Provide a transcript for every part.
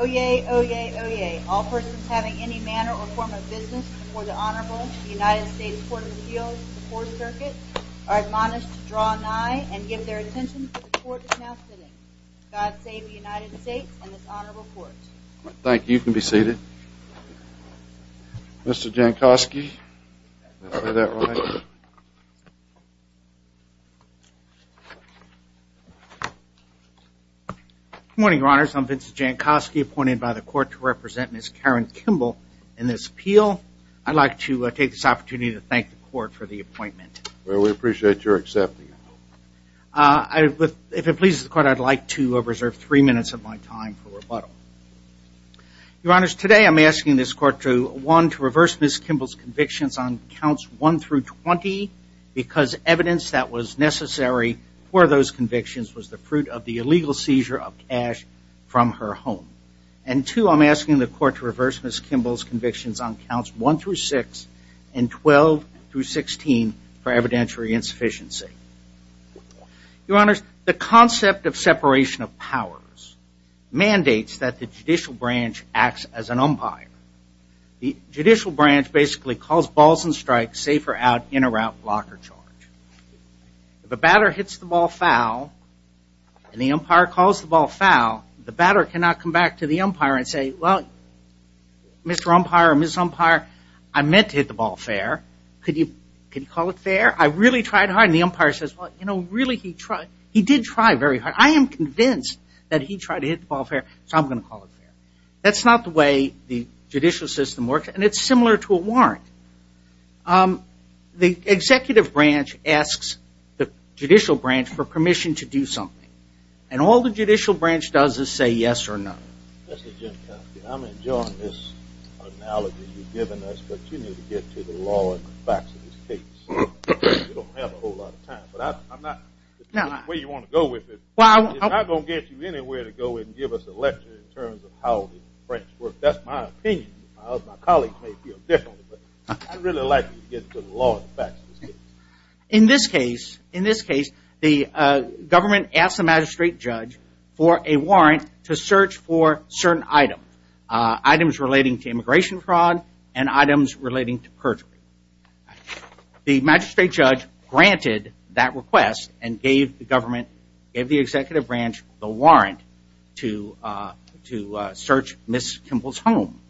Oyez, Oyez, Oyez, all persons having any manner or form of business before the Honorable United States Court of Appeals and the Court of Circuits are admonished to draw nigh and give their attention to the Court that is now sitting. God save the United States and this Honorable Court. Thank you. You can be seated. Mr. Jankowski, did I say that right? Good morning, Your Honors. I'm Vincent Jankowski, appointed by the Court to represent Ms. Karen Kimble in this appeal. I'd like to take this opportunity to thank the Court for the appointment. Well, we appreciate your accepting. If it pleases the Court, I'd like to reserve three minutes of my time for rebuttal. Your Honors, today I'm asking this Court to, one, to reverse Ms. Kimble's convictions on counts 1 through 20 because evidence that was necessary for those convictions was the fruit of the illegal seizure of cash from her home. And two, I'm asking the Court to reverse Ms. Kimble's convictions on counts 1 through 6 and 12 through 16 for evidentiary insufficiency. Your Honors, the concept of separation of powers mandates that the judicial branch acts as an umpire. The judicial branch basically calls balls and strikes, safe or out, in or out, block or charge. If a batter hits the ball foul and the umpire calls the ball foul, the batter cannot come back to the umpire and say, well, Mr. Umpire or Ms. Umpire, I meant to hit the ball fair. Could you call it fair? I really tried hard. And the umpire says, well, you know, really he tried. He did try very hard. I am convinced that he tried to hit the ball fair, so I'm going to call it fair. That's not the way the judicial system works, and it's similar to a warrant. The executive branch asks the judicial branch for permission to do something. And all the judicial branch does is say yes or no. I'm enjoying this analogy you've given us, but you need to get to the law and the facts of this case. We don't have a whole lot of time, but I'm not going to get you anywhere to go and give us a lecture in terms of how the French work. That's my opinion. My colleagues may feel differently, but I'd really like you to get to the law and the facts of this case. In this case, the government asked the magistrate judge for a warrant to search for certain items. Items relating to immigration fraud and items relating to perjury. The magistrate judge granted that request and gave the government, gave the executive branch the warrant to search Ms. Kimball's home.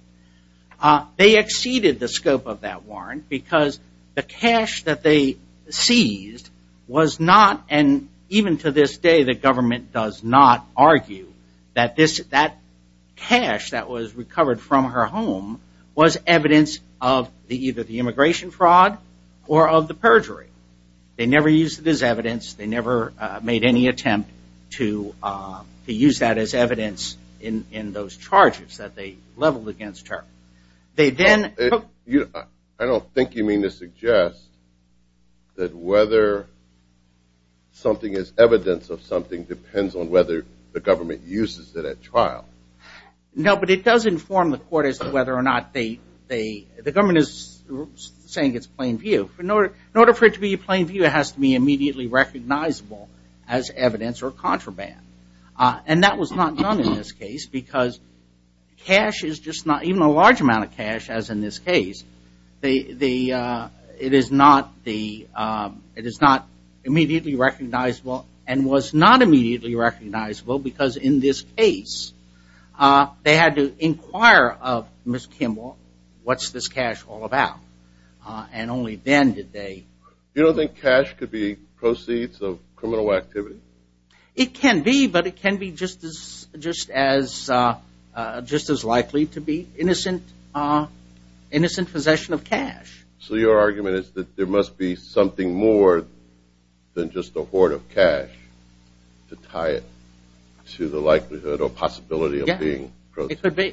They exceeded the scope of that warrant because the cash that they seized was not, and even to this day, the government does not argue that cash that was recovered from her home was evidence of either the immigration fraud or of the perjury. They never used it as evidence. They never made any attempt to use that as evidence in those charges that they leveled against her. They then... I don't think you mean to suggest that whether something is evidence of something depends on whether the government uses it at trial. No, but it does inform the court as to whether or not they, the government is saying it's plain view. In order for it to be plain view, it has to be immediately recognizable as evidence or contraband. And that was not done in this case because cash is just not, even a large amount of cash as in this case, it is not immediately recognizable and was not immediately recognizable because in this case, they had to inquire of Ms. Kimball, what's this cash all about? And only then did they... You don't think cash could be proceeds of criminal activity? It can be, but it can be just as likely to be innocent possession of cash. So your argument is that there must be something more than just a hoard of cash to tie it to the likelihood or possibility of being... the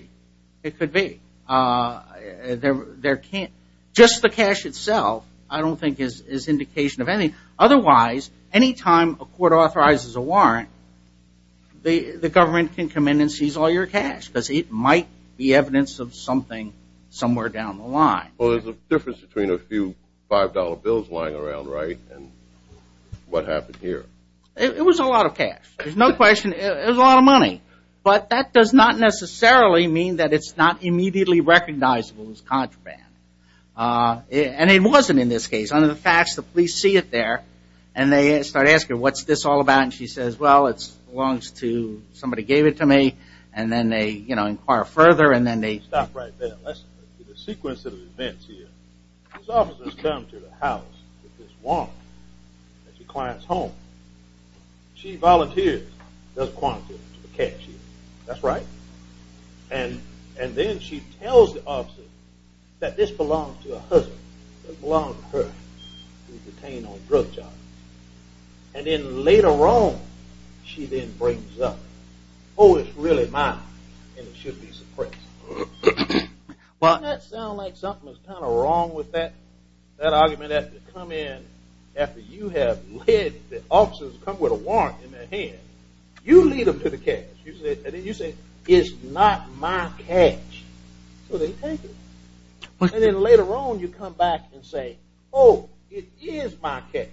government can come in and seize all your cash because it might be evidence of something somewhere down the line. Well, there's a difference between a few $5 bills lying around, right? And what happened here? It was a lot of cash. There's no question. It was a lot of money. But that does not necessarily mean that it's not immediately recognizable as contraband. And it wasn't in this case. Under the facts, the police see it there and they start asking, what's this all about? And she says, well, it belongs to, somebody gave it to me. And then they inquire further and then they... It doesn't belong to her. It was detained on drug charges. And then later on, she then brings up, oh, it's really mine and it should be suppressed. Doesn't that sound like something is kind of wrong with that? That argument has to come in after you have led the officers to come with a warrant in their hand. You lead them to the cash. And then you say, it's not my cash. So they take it. And then later on, you come back and say, oh, it is my cash.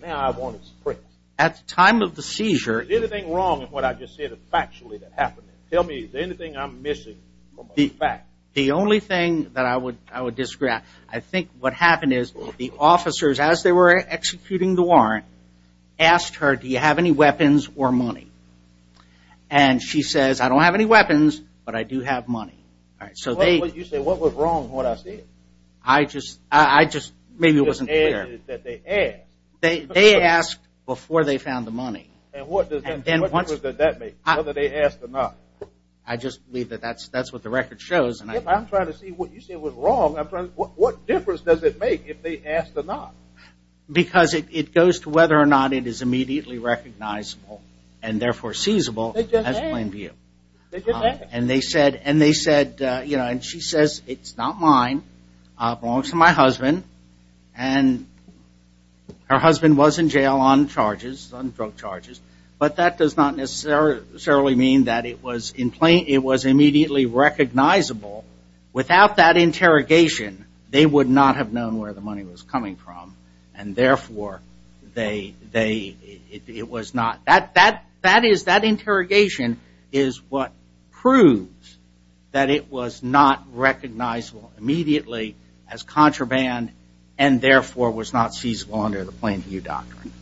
Now I want it suppressed. At the time of the seizure... Is anything wrong with what I just said factually that happened? Tell me, is there anything I'm missing from the fact? The only thing that I would, I would disagree. I think what happened is the officers, as they were executing the warrant, asked her, do you have any weapons or money? And she says, I don't have any weapons, but I do have money. All right, so they... You say, what was wrong with what I said? I just, I just, maybe it wasn't clear. That they asked. They asked before they found the money. And what does that make, whether they asked or not? I just believe that that's what the record shows. I'm trying to see what you said was wrong. What difference does it make if they asked or not? Because it goes to whether or not it is immediately recognizable and therefore seizable as plain view. And they said, and they said, you know, and she says, it's not mine. It belongs to my husband. And her husband was in jail on charges, on drug charges. But that does not necessarily mean that it was in plain, it was immediately recognizable. Without that interrogation, they would not have known where the money was coming from. And therefore, they, they, it was not. That, that, that is, that interrogation is what proves that it was not recognizable immediately as contraband. And therefore was not seizable under the plain view doctrine.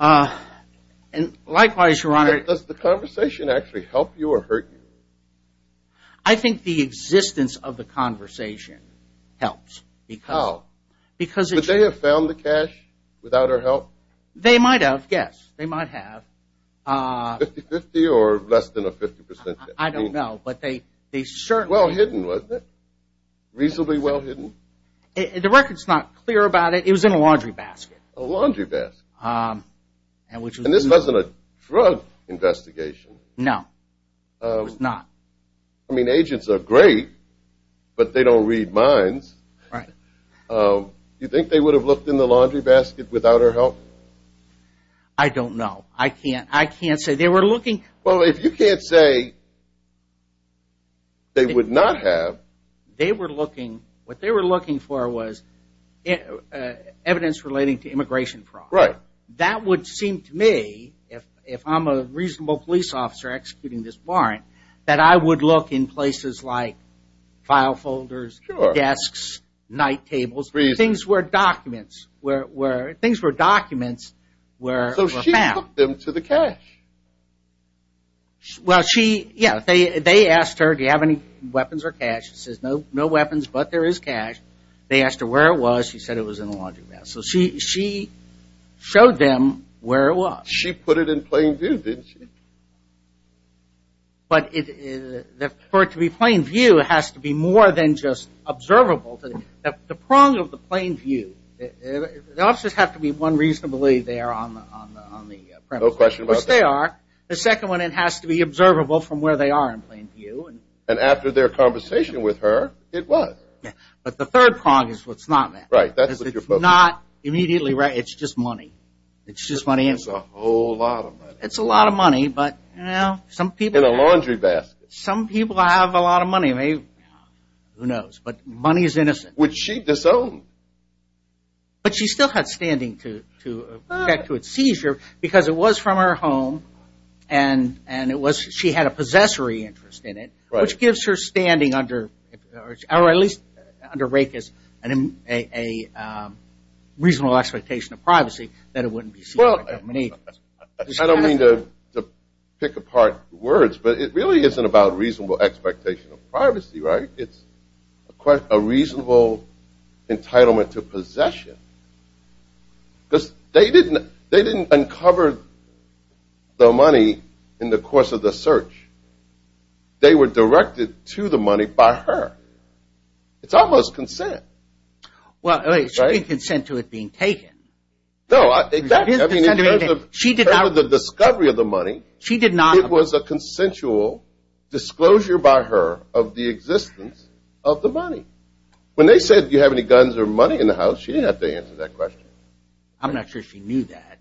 And likewise, Your Honor... Does the conversation actually help you or hurt you? I think the existence of the conversation helps. How? Because... Would they have found the cash without our help? They might have, yes. They might have. 50-50 or less than a 50 percent? I don't know, but they certainly... Well hidden, wasn't it? Reasonably well hidden? The record's not clear about it. It was in a laundry basket. A laundry basket. And this wasn't a drug investigation. No. It was not. I mean, agents are great, but they don't read minds. Right. Do you think they would have looked in the laundry basket without our help? I don't know. I can't, I can't say. They were looking... Well, if you can't say they would not have... They were looking, what they were looking for was evidence relating to immigration fraud. Right. That would seem to me, if I'm a reasonable police officer executing this warrant, that I would look in places like file folders, desks, night tables, things where documents were found. So she hooked them to the cash? Well, she, yeah, they asked her, do you have any weapons or cash? She says, no, no weapons, but there is cash. They asked her where it was. She said it was in a laundry basket. So she showed them where it was. She put it in plain view, didn't she? But for it to be plain view, it has to be more than just observable. The prong of the plain view, the officers have to be, one, reasonably there on the premises. No question about that. Which they are. The second one, it has to be observable from where they are in plain view. And after their conversation with her, it was. But the third prong is what's not there. Right. That's what you're focusing on. It's not immediately right. It's just money. It's just money. It's a whole lot of money. It's a lot of money, but, you know, some people have. In a laundry basket. Some people have a lot of money. Who knows? But money is innocent. Which she disowned. But she still had standing to protect to its seizure, because it was from her home, and she had a possessory interest in it, which gives her standing under, or at least under Rake as a reasonable expectation of privacy, that it wouldn't be seized by the company. I don't mean to pick apart words, but it really isn't about reasonable expectation of privacy, right? It's a reasonable entitlement to possession. Because they didn't uncover the money in the course of the search. They were directed to the money by her. It's almost consent. Well, she didn't consent to it being taken. No, exactly. In terms of the discovery of the money, it was a consensual disclosure by her of the existence of the money. When they said, do you have any guns or money in the house, she didn't have to answer that question. I'm not sure she knew that.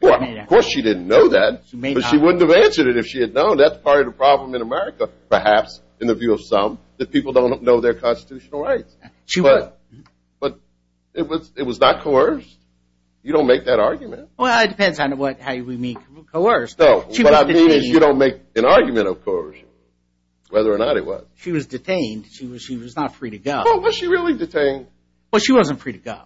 Well, of course she didn't know that. But she wouldn't have answered it if she had known. That's part of the problem in America, perhaps, in the view of some, that people don't know their constitutional rights. But it was not coerced. You don't make that argument. Well, it depends on how you mean coerced. What I mean is you don't make an argument, of course, whether or not it was. She was detained. She was not free to go. Well, was she really detained? Well, she wasn't free to go.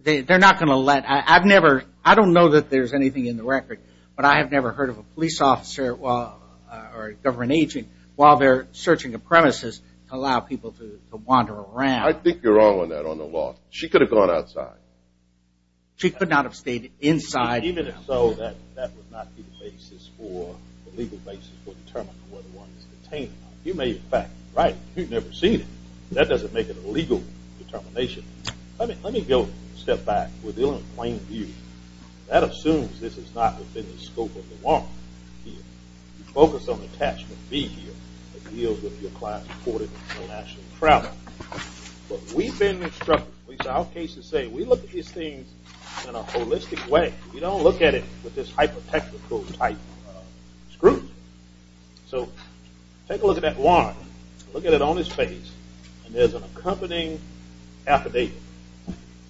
They're not going to let – I've never – I don't know that there's anything in the record, but I have never heard of a police officer or a government agent while they're searching a premises to allow people to wander around. I think you're wrong on that on the law. She could have gone outside. She could not have stayed inside. Even if so, that would not be the basis for – the legal basis for determining whether one is detained. You may, in fact, be right. You've never seen it. That doesn't make it a legal determination. Let me go a step back. We're dealing with plain beauty. That assumes this is not within the scope of the warrant here. You focus on the attachment B here that deals with your client's reported international travel. But we've been instructed – at least our cases say we look at these things in a holistic way. We don't look at it with this hypothetical type scrutiny. So take a look at that warrant. Look at it on its face, and there's an accompanying affidavit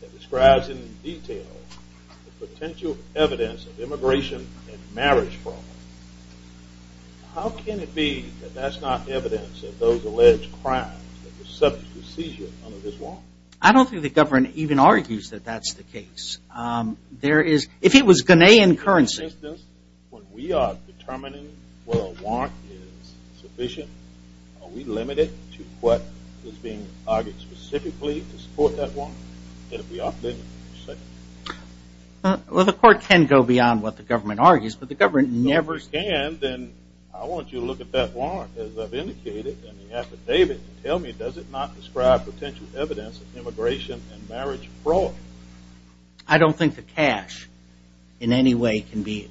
that describes in detail the potential evidence of immigration and marriage fraud. How can it be that that's not evidence of those alleged crimes that were subject to seizure under this warrant? I don't think the government even argues that that's the case. There is – if it was Ghanaian currency – are we limited to what is being argued specifically to support that warrant? Well, the court can go beyond what the government argues, but the government never – If it can, then I want you to look at that warrant as I've indicated in the affidavit and tell me does it not describe potential evidence of immigration and marriage fraud? I don't think the cash in any way can be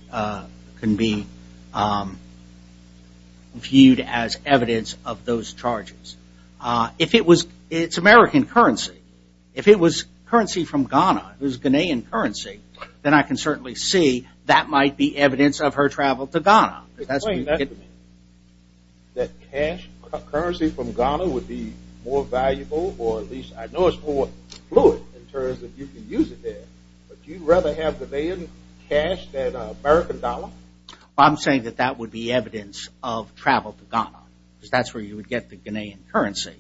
viewed as evidence of those charges. If it was – it's American currency. If it was currency from Ghana, it was Ghanaian currency, then I can certainly see that might be evidence of her travel to Ghana. Explain that to me, that cash currency from Ghana would be more valuable or at least I know it's more fluid in terms of you can use it there, but do you rather have Ghanaian cash than American dollar? Well, I'm saying that that would be evidence of travel to Ghana because that's where you would get the Ghanaian currency.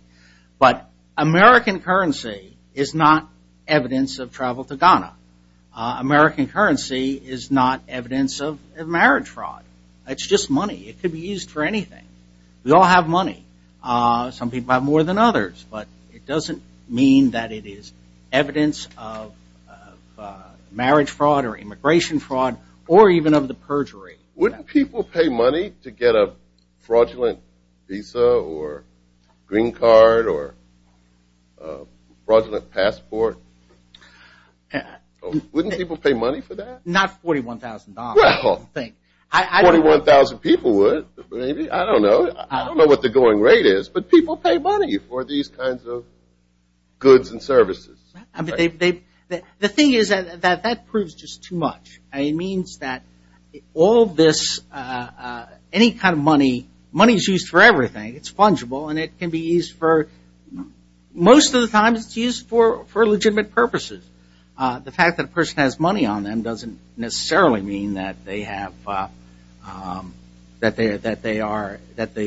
But American currency is not evidence of travel to Ghana. American currency is not evidence of marriage fraud. It's just money. It could be used for anything. We all have money. Some people have more than others, but it doesn't mean that it is evidence of marriage fraud or immigration fraud or even of the perjury. Wouldn't people pay money to get a fraudulent visa or green card or fraudulent passport? Wouldn't people pay money for that? Not $41,000. $41,000 people would, maybe. I don't know. I don't know what the going rate is, but people pay money for these kinds of goods and services. The thing is that that proves just too much. It means that all of this, any kind of money, money is used for everything. It's fungible and it can be used for most of the time, but it's used for legitimate purposes. The fact that a person has money on them doesn't necessarily mean that they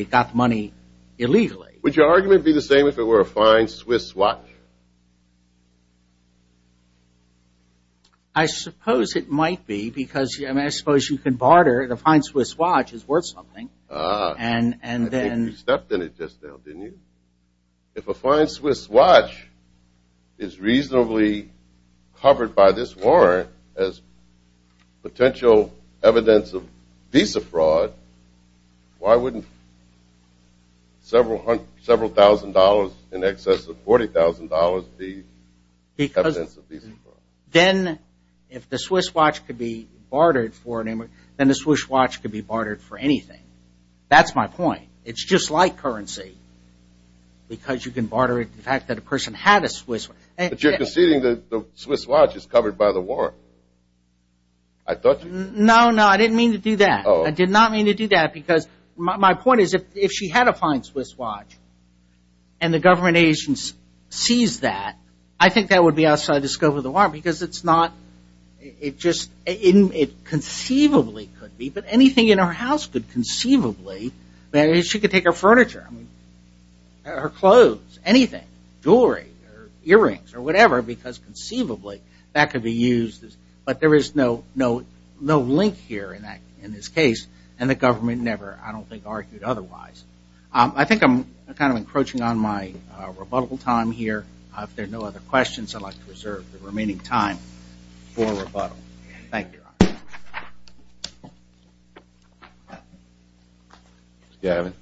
got money illegally. Would your argument be the same if it were a fine Swiss watch? I suppose it might be because, I mean, I suppose you can barter. A fine Swiss watch is worth something. I think you stepped in it just now, didn't you? If a fine Swiss watch is reasonably covered by this warrant as potential evidence of visa fraud, why wouldn't several thousand dollars in excess of $40,000 be evidence of visa fraud? Then if the Swiss watch could be bartered for an image, then the Swiss watch could be bartered for anything. That's my point. It's just like currency because you can barter it. The fact that a person had a Swiss watch. But you're conceding that the Swiss watch is covered by the warrant. I thought you were. No, no, I didn't mean to do that. I did not mean to do that because my point is if she had a fine Swiss watch and the government agents seized that, I think that would be outside the scope of the warrant because it's not, it just, it conceivably could be, but anything in her house could conceivably. She could take her furniture, her clothes, anything, jewelry, earrings or whatever because conceivably that could be used. But there is no link here in this case and the government never, I don't think, argued otherwise. I think I'm kind of encroaching on my rebuttal time here. If there are no other questions, I'd like to reserve the remaining time for rebuttal. Thank you. Ms. Gavin.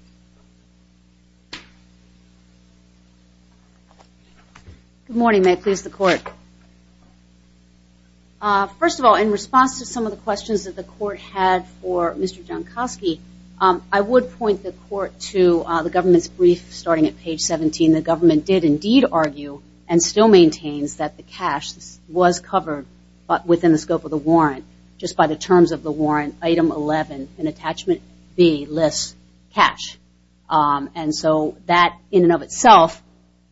Good morning. May it please the Court. First of all, in response to some of the questions that the Court had for Mr. Jankowski, I would point the Court to the government's brief starting at page 17. The government did indeed argue and still maintains that the cash was covered within the scope of the warrant just by the terms of the warrant item 11 in attachment B lists cash. And so that in and of itself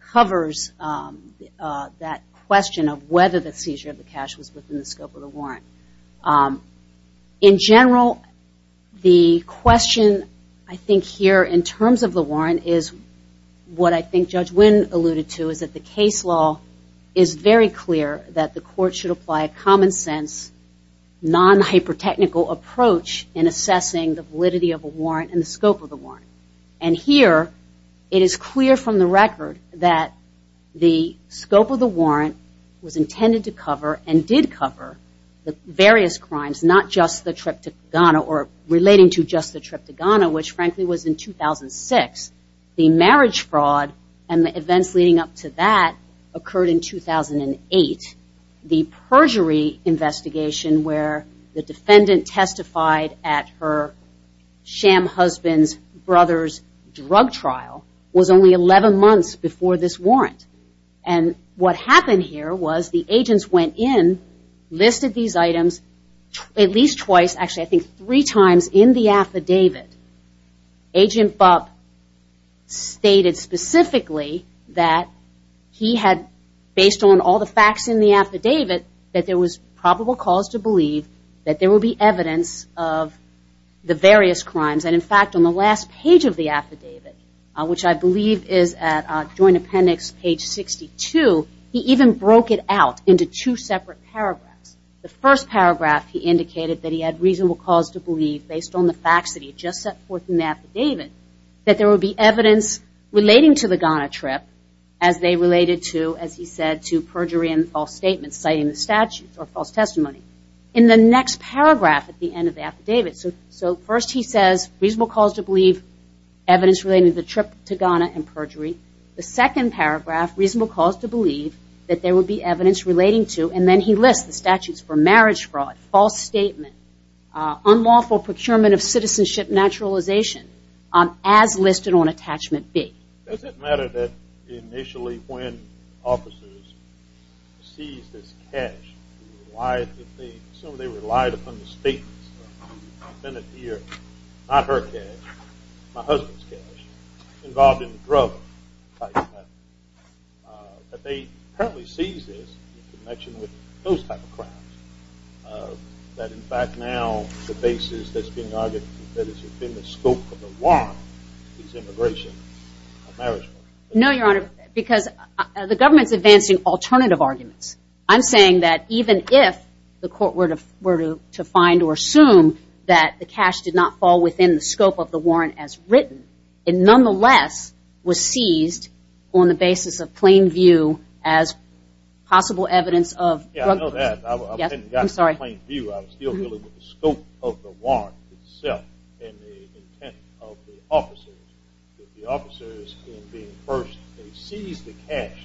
covers that question of whether the seizure of the cash was covered within the scope of the warrant. In general, the question I think here in terms of the warrant is what I think Judge Wynn alluded to, is that the case law is very clear that the Court should apply a common sense, non-hyper technical approach in assessing the validity of a warrant and the scope of the warrant. And here it is clear from the record that the scope of the warrant was intended to cover and did cover the various crimes, not just the trip to Ghana or relating to just the trip to Ghana, which frankly was in 2006. The marriage fraud and the events leading up to that occurred in 2008. The perjury investigation where the defendant testified at her sham husband's brother's drug trial was only 11 months before this warrant. And what happened here was the agents went in, listed these items at least twice, actually I think three times in the affidavit. Agent Bupp stated specifically that he had, based on all the facts in the affidavit, that there was probable cause to believe that there would be evidence of the various crimes. And in fact on the last page of the affidavit, which I believe is at Joint Appendix page 62, he even broke it out into two separate paragraphs. The first paragraph he indicated that he had reasonable cause to believe, based on the facts that he had just set forth in the affidavit, that there would be evidence relating to the Ghana trip as they related to, as he said, to perjury and false statements, citing the statutes or false testimony. In the next paragraph at the end of the affidavit, so first he says reasonable cause to believe evidence relating to the trip to Ghana and perjury. The second paragraph, reasonable cause to believe that there would be evidence relating to, and then he lists the statutes for marriage fraud, false statement, unlawful procurement of citizenship naturalization, as listed on Attachment B. Does it matter that initially when officers seized this cash, they relied upon the statements of the defendant here, not her cash, my husband's cash, involved in the drug type of crime. That they apparently seized this in connection with those type of crimes. That in fact now the basis that's being argued, that it's within the scope of the warrant is immigration. No, Your Honor, because the government's advancing alternative arguments. I'm saying that even if the court were to find or assume that the cash did not fall within the scope of the warrant as written, it nonetheless was seized on the basis of plain view as possible evidence of drug possession. Yes, I'm sorry. I'm still dealing with the scope of the warrant itself and the intent of the officers. The officers in being first seized the cash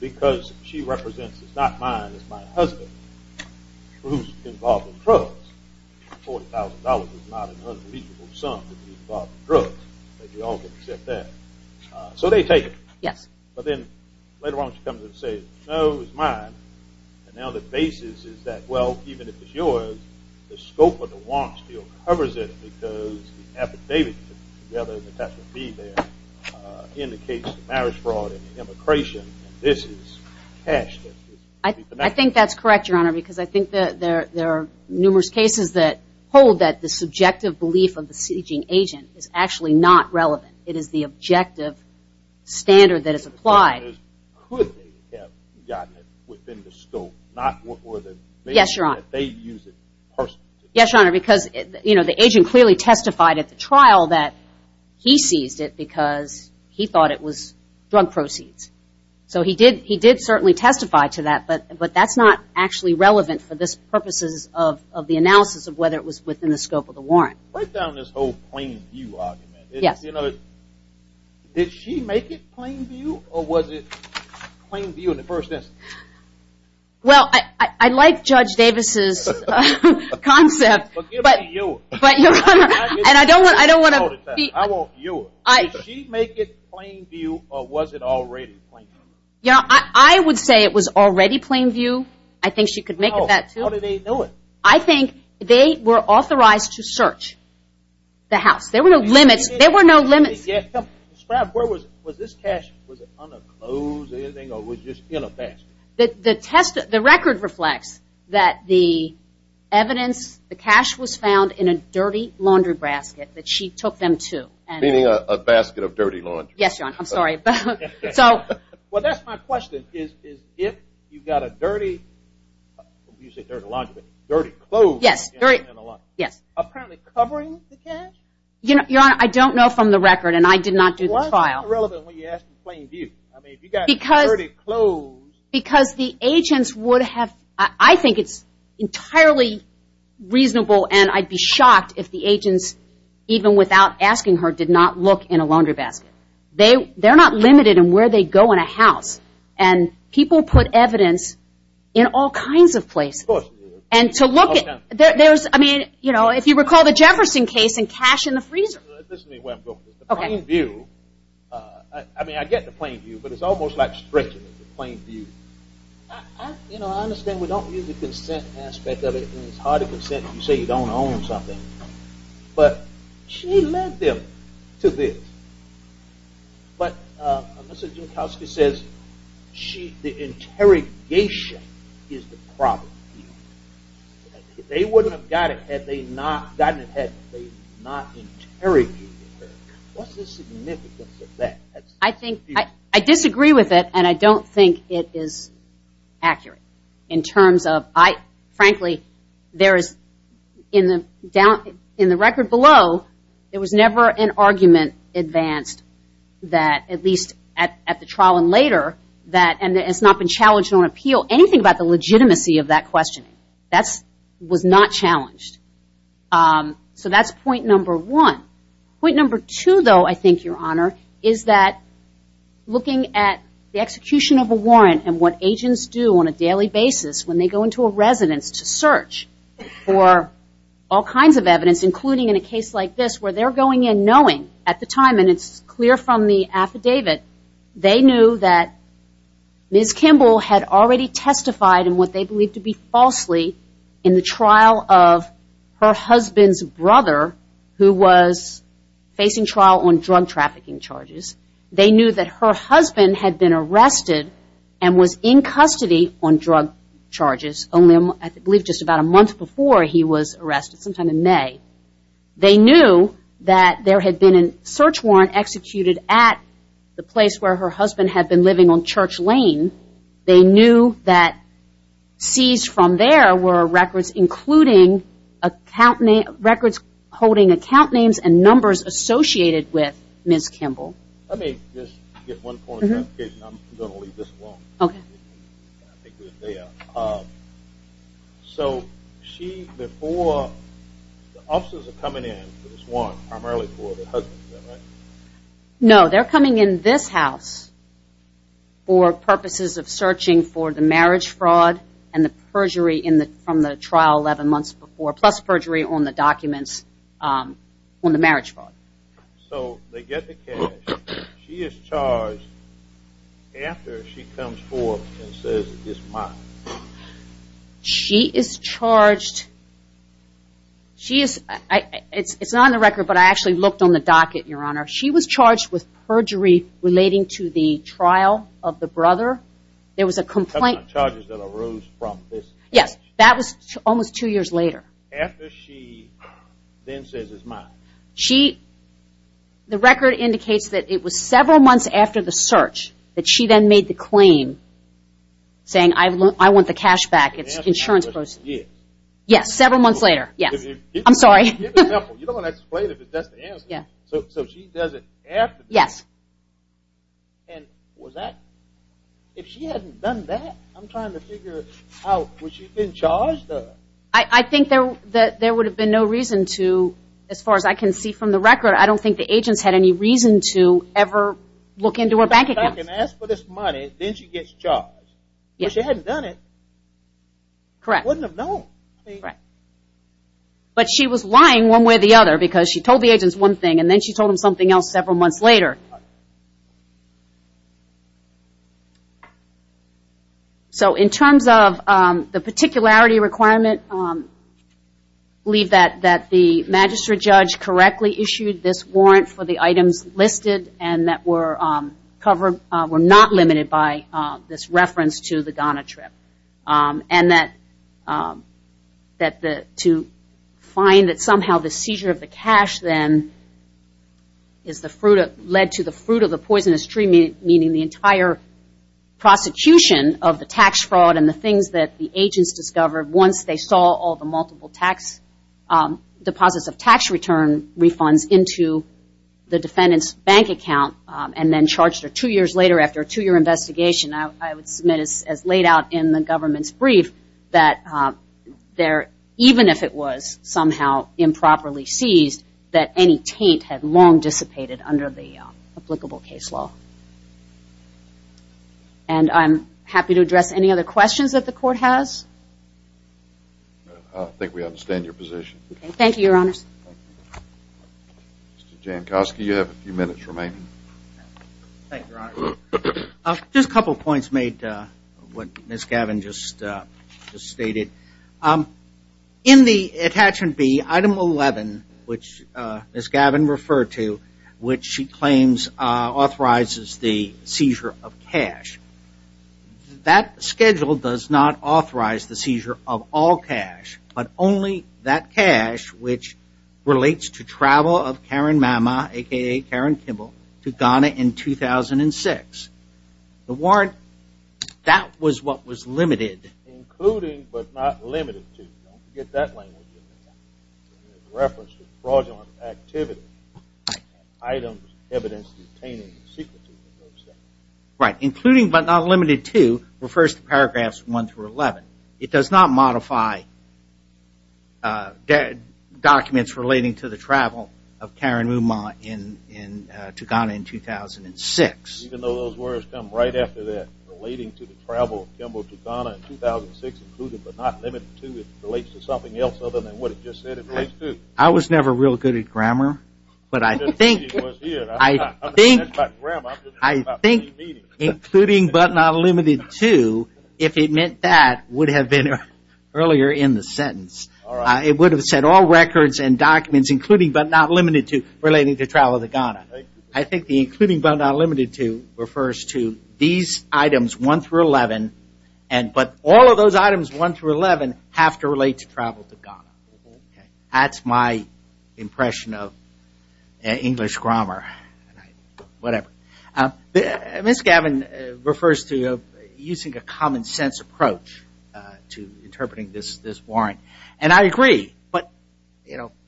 because she represents, it's not mine, it's my husband, who's involved in drugs. $40,000 is not an unbelievable sum to be involved in drugs. So they take it. Yes. But then later on she comes in and says, no, it was mine. And now the basis is that, well, even if it's yours, the scope of the warrant still covers it because the affidavit together that has to be there indicates marriage fraud and immigration and this is cash. I think that's correct, Your Honor, because I think that there are numerous cases that hold that the subjective belief of the seizing agent is actually not relevant. It is the objective standard that is applied. Could they have gotten it within the scope? Yes, Your Honor, because the agent clearly testified at the trial that he seized it because he thought it was drug proceeds. So he did certainly testify to that, but that's not actually relevant for the purposes of the analysis of whether it was within the scope of the warrant. Break down this whole plain view argument. Did she make it plain view or was it plain view in the first instance? Well, I like Judge Davis' concept, but, Your Honor, and I don't want to beat you. Did she make it plain view or was it already plain view? I would say it was already plain view. I think she could make it that, too. How did they know it? I think they were authorized to search the house. There were no limits. There were no limits. Where was this cash? Was it under clothes or anything or was it just in a basket? The record reflects that the evidence, the cash was found in a dirty laundry basket that she took them to. Meaning a basket of dirty laundry. Yes, Your Honor. I'm sorry. Well, that's my question is if you got a dirty laundry basket, dirty clothes, apparently covering the cash? Your Honor, I don't know from the record and I did not do the trial. Why is that irrelevant when you ask in plain view? I mean, if you got dirty clothes. Because the agents would have, I think it's entirely reasonable and I'd be shocked if the agents, even without asking her, did not look in a laundry basket. They're not limited in where they go in a house. And people put evidence in all kinds of places. Of course they do. And to look at, there's, I mean, you know, if you recall the Jefferson case and cash in the freezer. This is where I'm going with this. The plain view, I mean, I get the plain view, but it's almost like stricter than the plain view. You know, I understand we don't use the consent aspect of it. It's hard to consent if you say you don't own something. But she led them to this. But Mr. Junkowski says the interrogation is the problem. They wouldn't have gotten it had they not interrogated her. What's the significance of that? I disagree with it and I don't think it is accurate in terms of, frankly, there is, in the record below, there was never an argument advanced that, at least at the trial and later, that it's not been challenged on appeal. Anything about the legitimacy of that question, that was not challenged. So that's point number one. Point number two, though, I think, Your Honor, is that looking at the execution of a warrant and what agents do on a daily basis when they go into a residence to search for all kinds of evidence, including in a case like this where they're going in knowing at the time, and it's clear from the affidavit, they knew that Ms. Kimball had already testified in what they believed to be falsely in the trial of her husband's brother, who was facing trial on drug trafficking charges. They knew that her husband had been arrested and was in custody on drug charges, I believe just about a month before he was arrested, sometime in May. They knew that there had been a search warrant executed at the place where her husband had been living on Church Lane. They knew that seized from there were records including records holding account names and numbers associated with Ms. Kimball. Let me just get one point of clarification. I'm going to leave this alone. Okay. I think we're there. So she, the four, the officers are coming in for this warrant primarily for the husband, right? No, they're coming in this house for purposes of searching for the marriage fraud and the perjury from the trial 11 months before, plus perjury on the documents on the marriage fraud. So they get the cash. She is charged after she comes forth and says it's mine. She is charged. It's not on the record, but I actually looked on the docket, Your Honor. She was charged with perjury relating to the trial of the brother. There was a complaint. Charges that arose from this. Yes. That was almost two years later. After she then says it's mine. She, the record indicates that it was several months after the search that she then made the claim saying I want the cash back. It's insurance proceeds. Yes. Yes, several months later. Yes. I'm sorry. Give an example. You don't want to explain it, but that's the answer. Yes. So she does it after. Yes. And was that, if she hadn't done that, I'm trying to figure out, would she have been charged? I think that there would have been no reason to, as far as I can see from the record, I don't think the agents had any reason to ever look into her bank account. If I can ask for this money, then she gets charged. Yes. But she hadn't done it. Correct. She wouldn't have known. Correct. But she was lying one way or the other because she told the agents one thing and then she told them something else several months later. So in terms of the particularity requirement, I believe that the magistrate judge correctly issued this warrant for the items listed and that were not limited by this reference to the Ghana trip. And that to find that somehow the seizure of the cash then led to the fruit of the poisonous tree, meaning the entire prosecution of the tax fraud and the things that the agents discovered once they saw all the multiple tax deposits of tax return refunds into the defendant's bank account and then charged her two years later after a two-year investigation, I would submit as laid out in the government's brief that even if it was somehow improperly seized, that any taint had long dissipated under the applicable case law. And I'm happy to address any other questions that the court has. I think we understand your position. Thank you, Your Honors. Mr. Jankowski, you have a few minutes remaining. Thank you, Your Honor. Just a couple of points made, what Ms. Gavin just stated. In the attachment B, item 11, which Ms. Gavin referred to, which she claims authorizes the seizure of cash, that schedule does not authorize the seizure of all cash, but only that cash which relates to travel of Karen Mama, a.k.a. Karen Kimball, to Ghana in 2006. The warrant, that was what was limited. Including but not limited to. Don't forget that language. Reference to fraudulent activity. Items, evidence, detaining, secrecy. Right. Including but not limited to refers to paragraphs 1 through 11. It does not modify documents relating to the travel of Karen Mama to Ghana in 2006. Even though those words come right after that. Relating to the travel of Kimball to Ghana in 2006, including but not limited to, it relates to something else other than what it just said it relates to. I was never real good at grammar. But I think including but not limited to, if it meant that, would have been earlier in the sentence. It would have said all records and documents including but not limited to relating to travel to Ghana. I think the including but not limited to refers to these items 1 through 11, but all of those items 1 through 11 have to relate to travel to Ghana. That's my impression of English grammar. Whatever. Ms. Gavin refers to using a common sense approach to interpreting this warrant. And I agree. But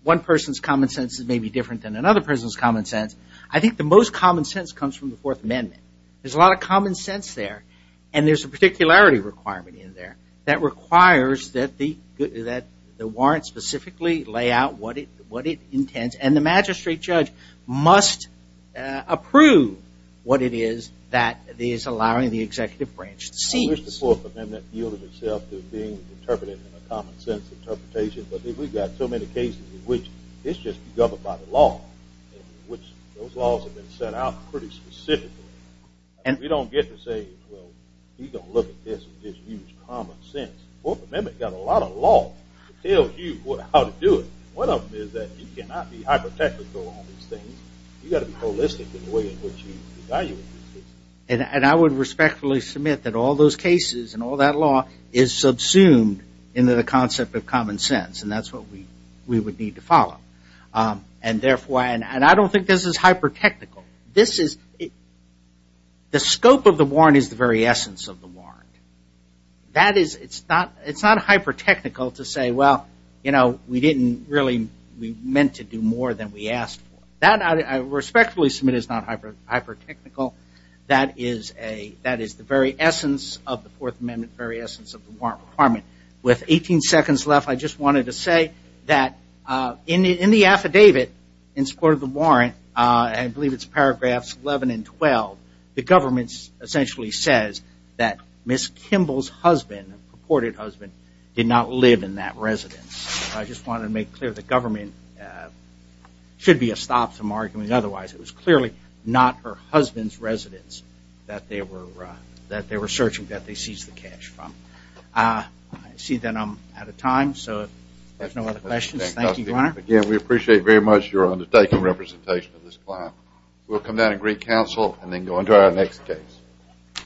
one person's common sense may be different than another person's common sense. I think the most common sense comes from the Fourth Amendment. There's a lot of common sense there. And there's a particularity requirement in there that requires that the warrant specifically lay out what it intends. And the magistrate judge must approve what it is that is allowing the executive branch to seize. The Fourth Amendment yields itself to being interpreted in a common sense interpretation. But we've got so many cases in which it's just governed by the law. And those laws have been set out pretty specifically. And we don't get to say, well, he's going to look at this and just use common sense. The Fourth Amendment has got a lot of laws that tell you how to do it. One of them is that you cannot be hyper-technical on these things. You've got to be holistic in the way in which you evaluate these things. And I would respectfully submit that all those cases and all that law is subsumed into the concept of common sense. And that's what we would need to follow. And I don't think this is hyper-technical. The scope of the warrant is the very essence of the warrant. It's not hyper-technical to say, well, we meant to do more than we asked for. That I respectfully submit is not hyper-technical. That is the very essence of the Fourth Amendment, the very essence of the warrant requirement. With 18 seconds left, I just wanted to say that in the affidavit in support of the warrant, I believe it's paragraphs 11 and 12, the government essentially says that Ms. Kimball's husband, her purported husband, did not live in that residence. I just wanted to make clear that government should be a stop to arguing otherwise. It was clearly not her husband's residence that they were searching, that they seized the cash from. I see that I'm out of time, so if there's no other questions. Thank you, Your Honor. Again, we appreciate very much your undertaken representation of this client. We'll come down and greet counsel and then go on to our next case.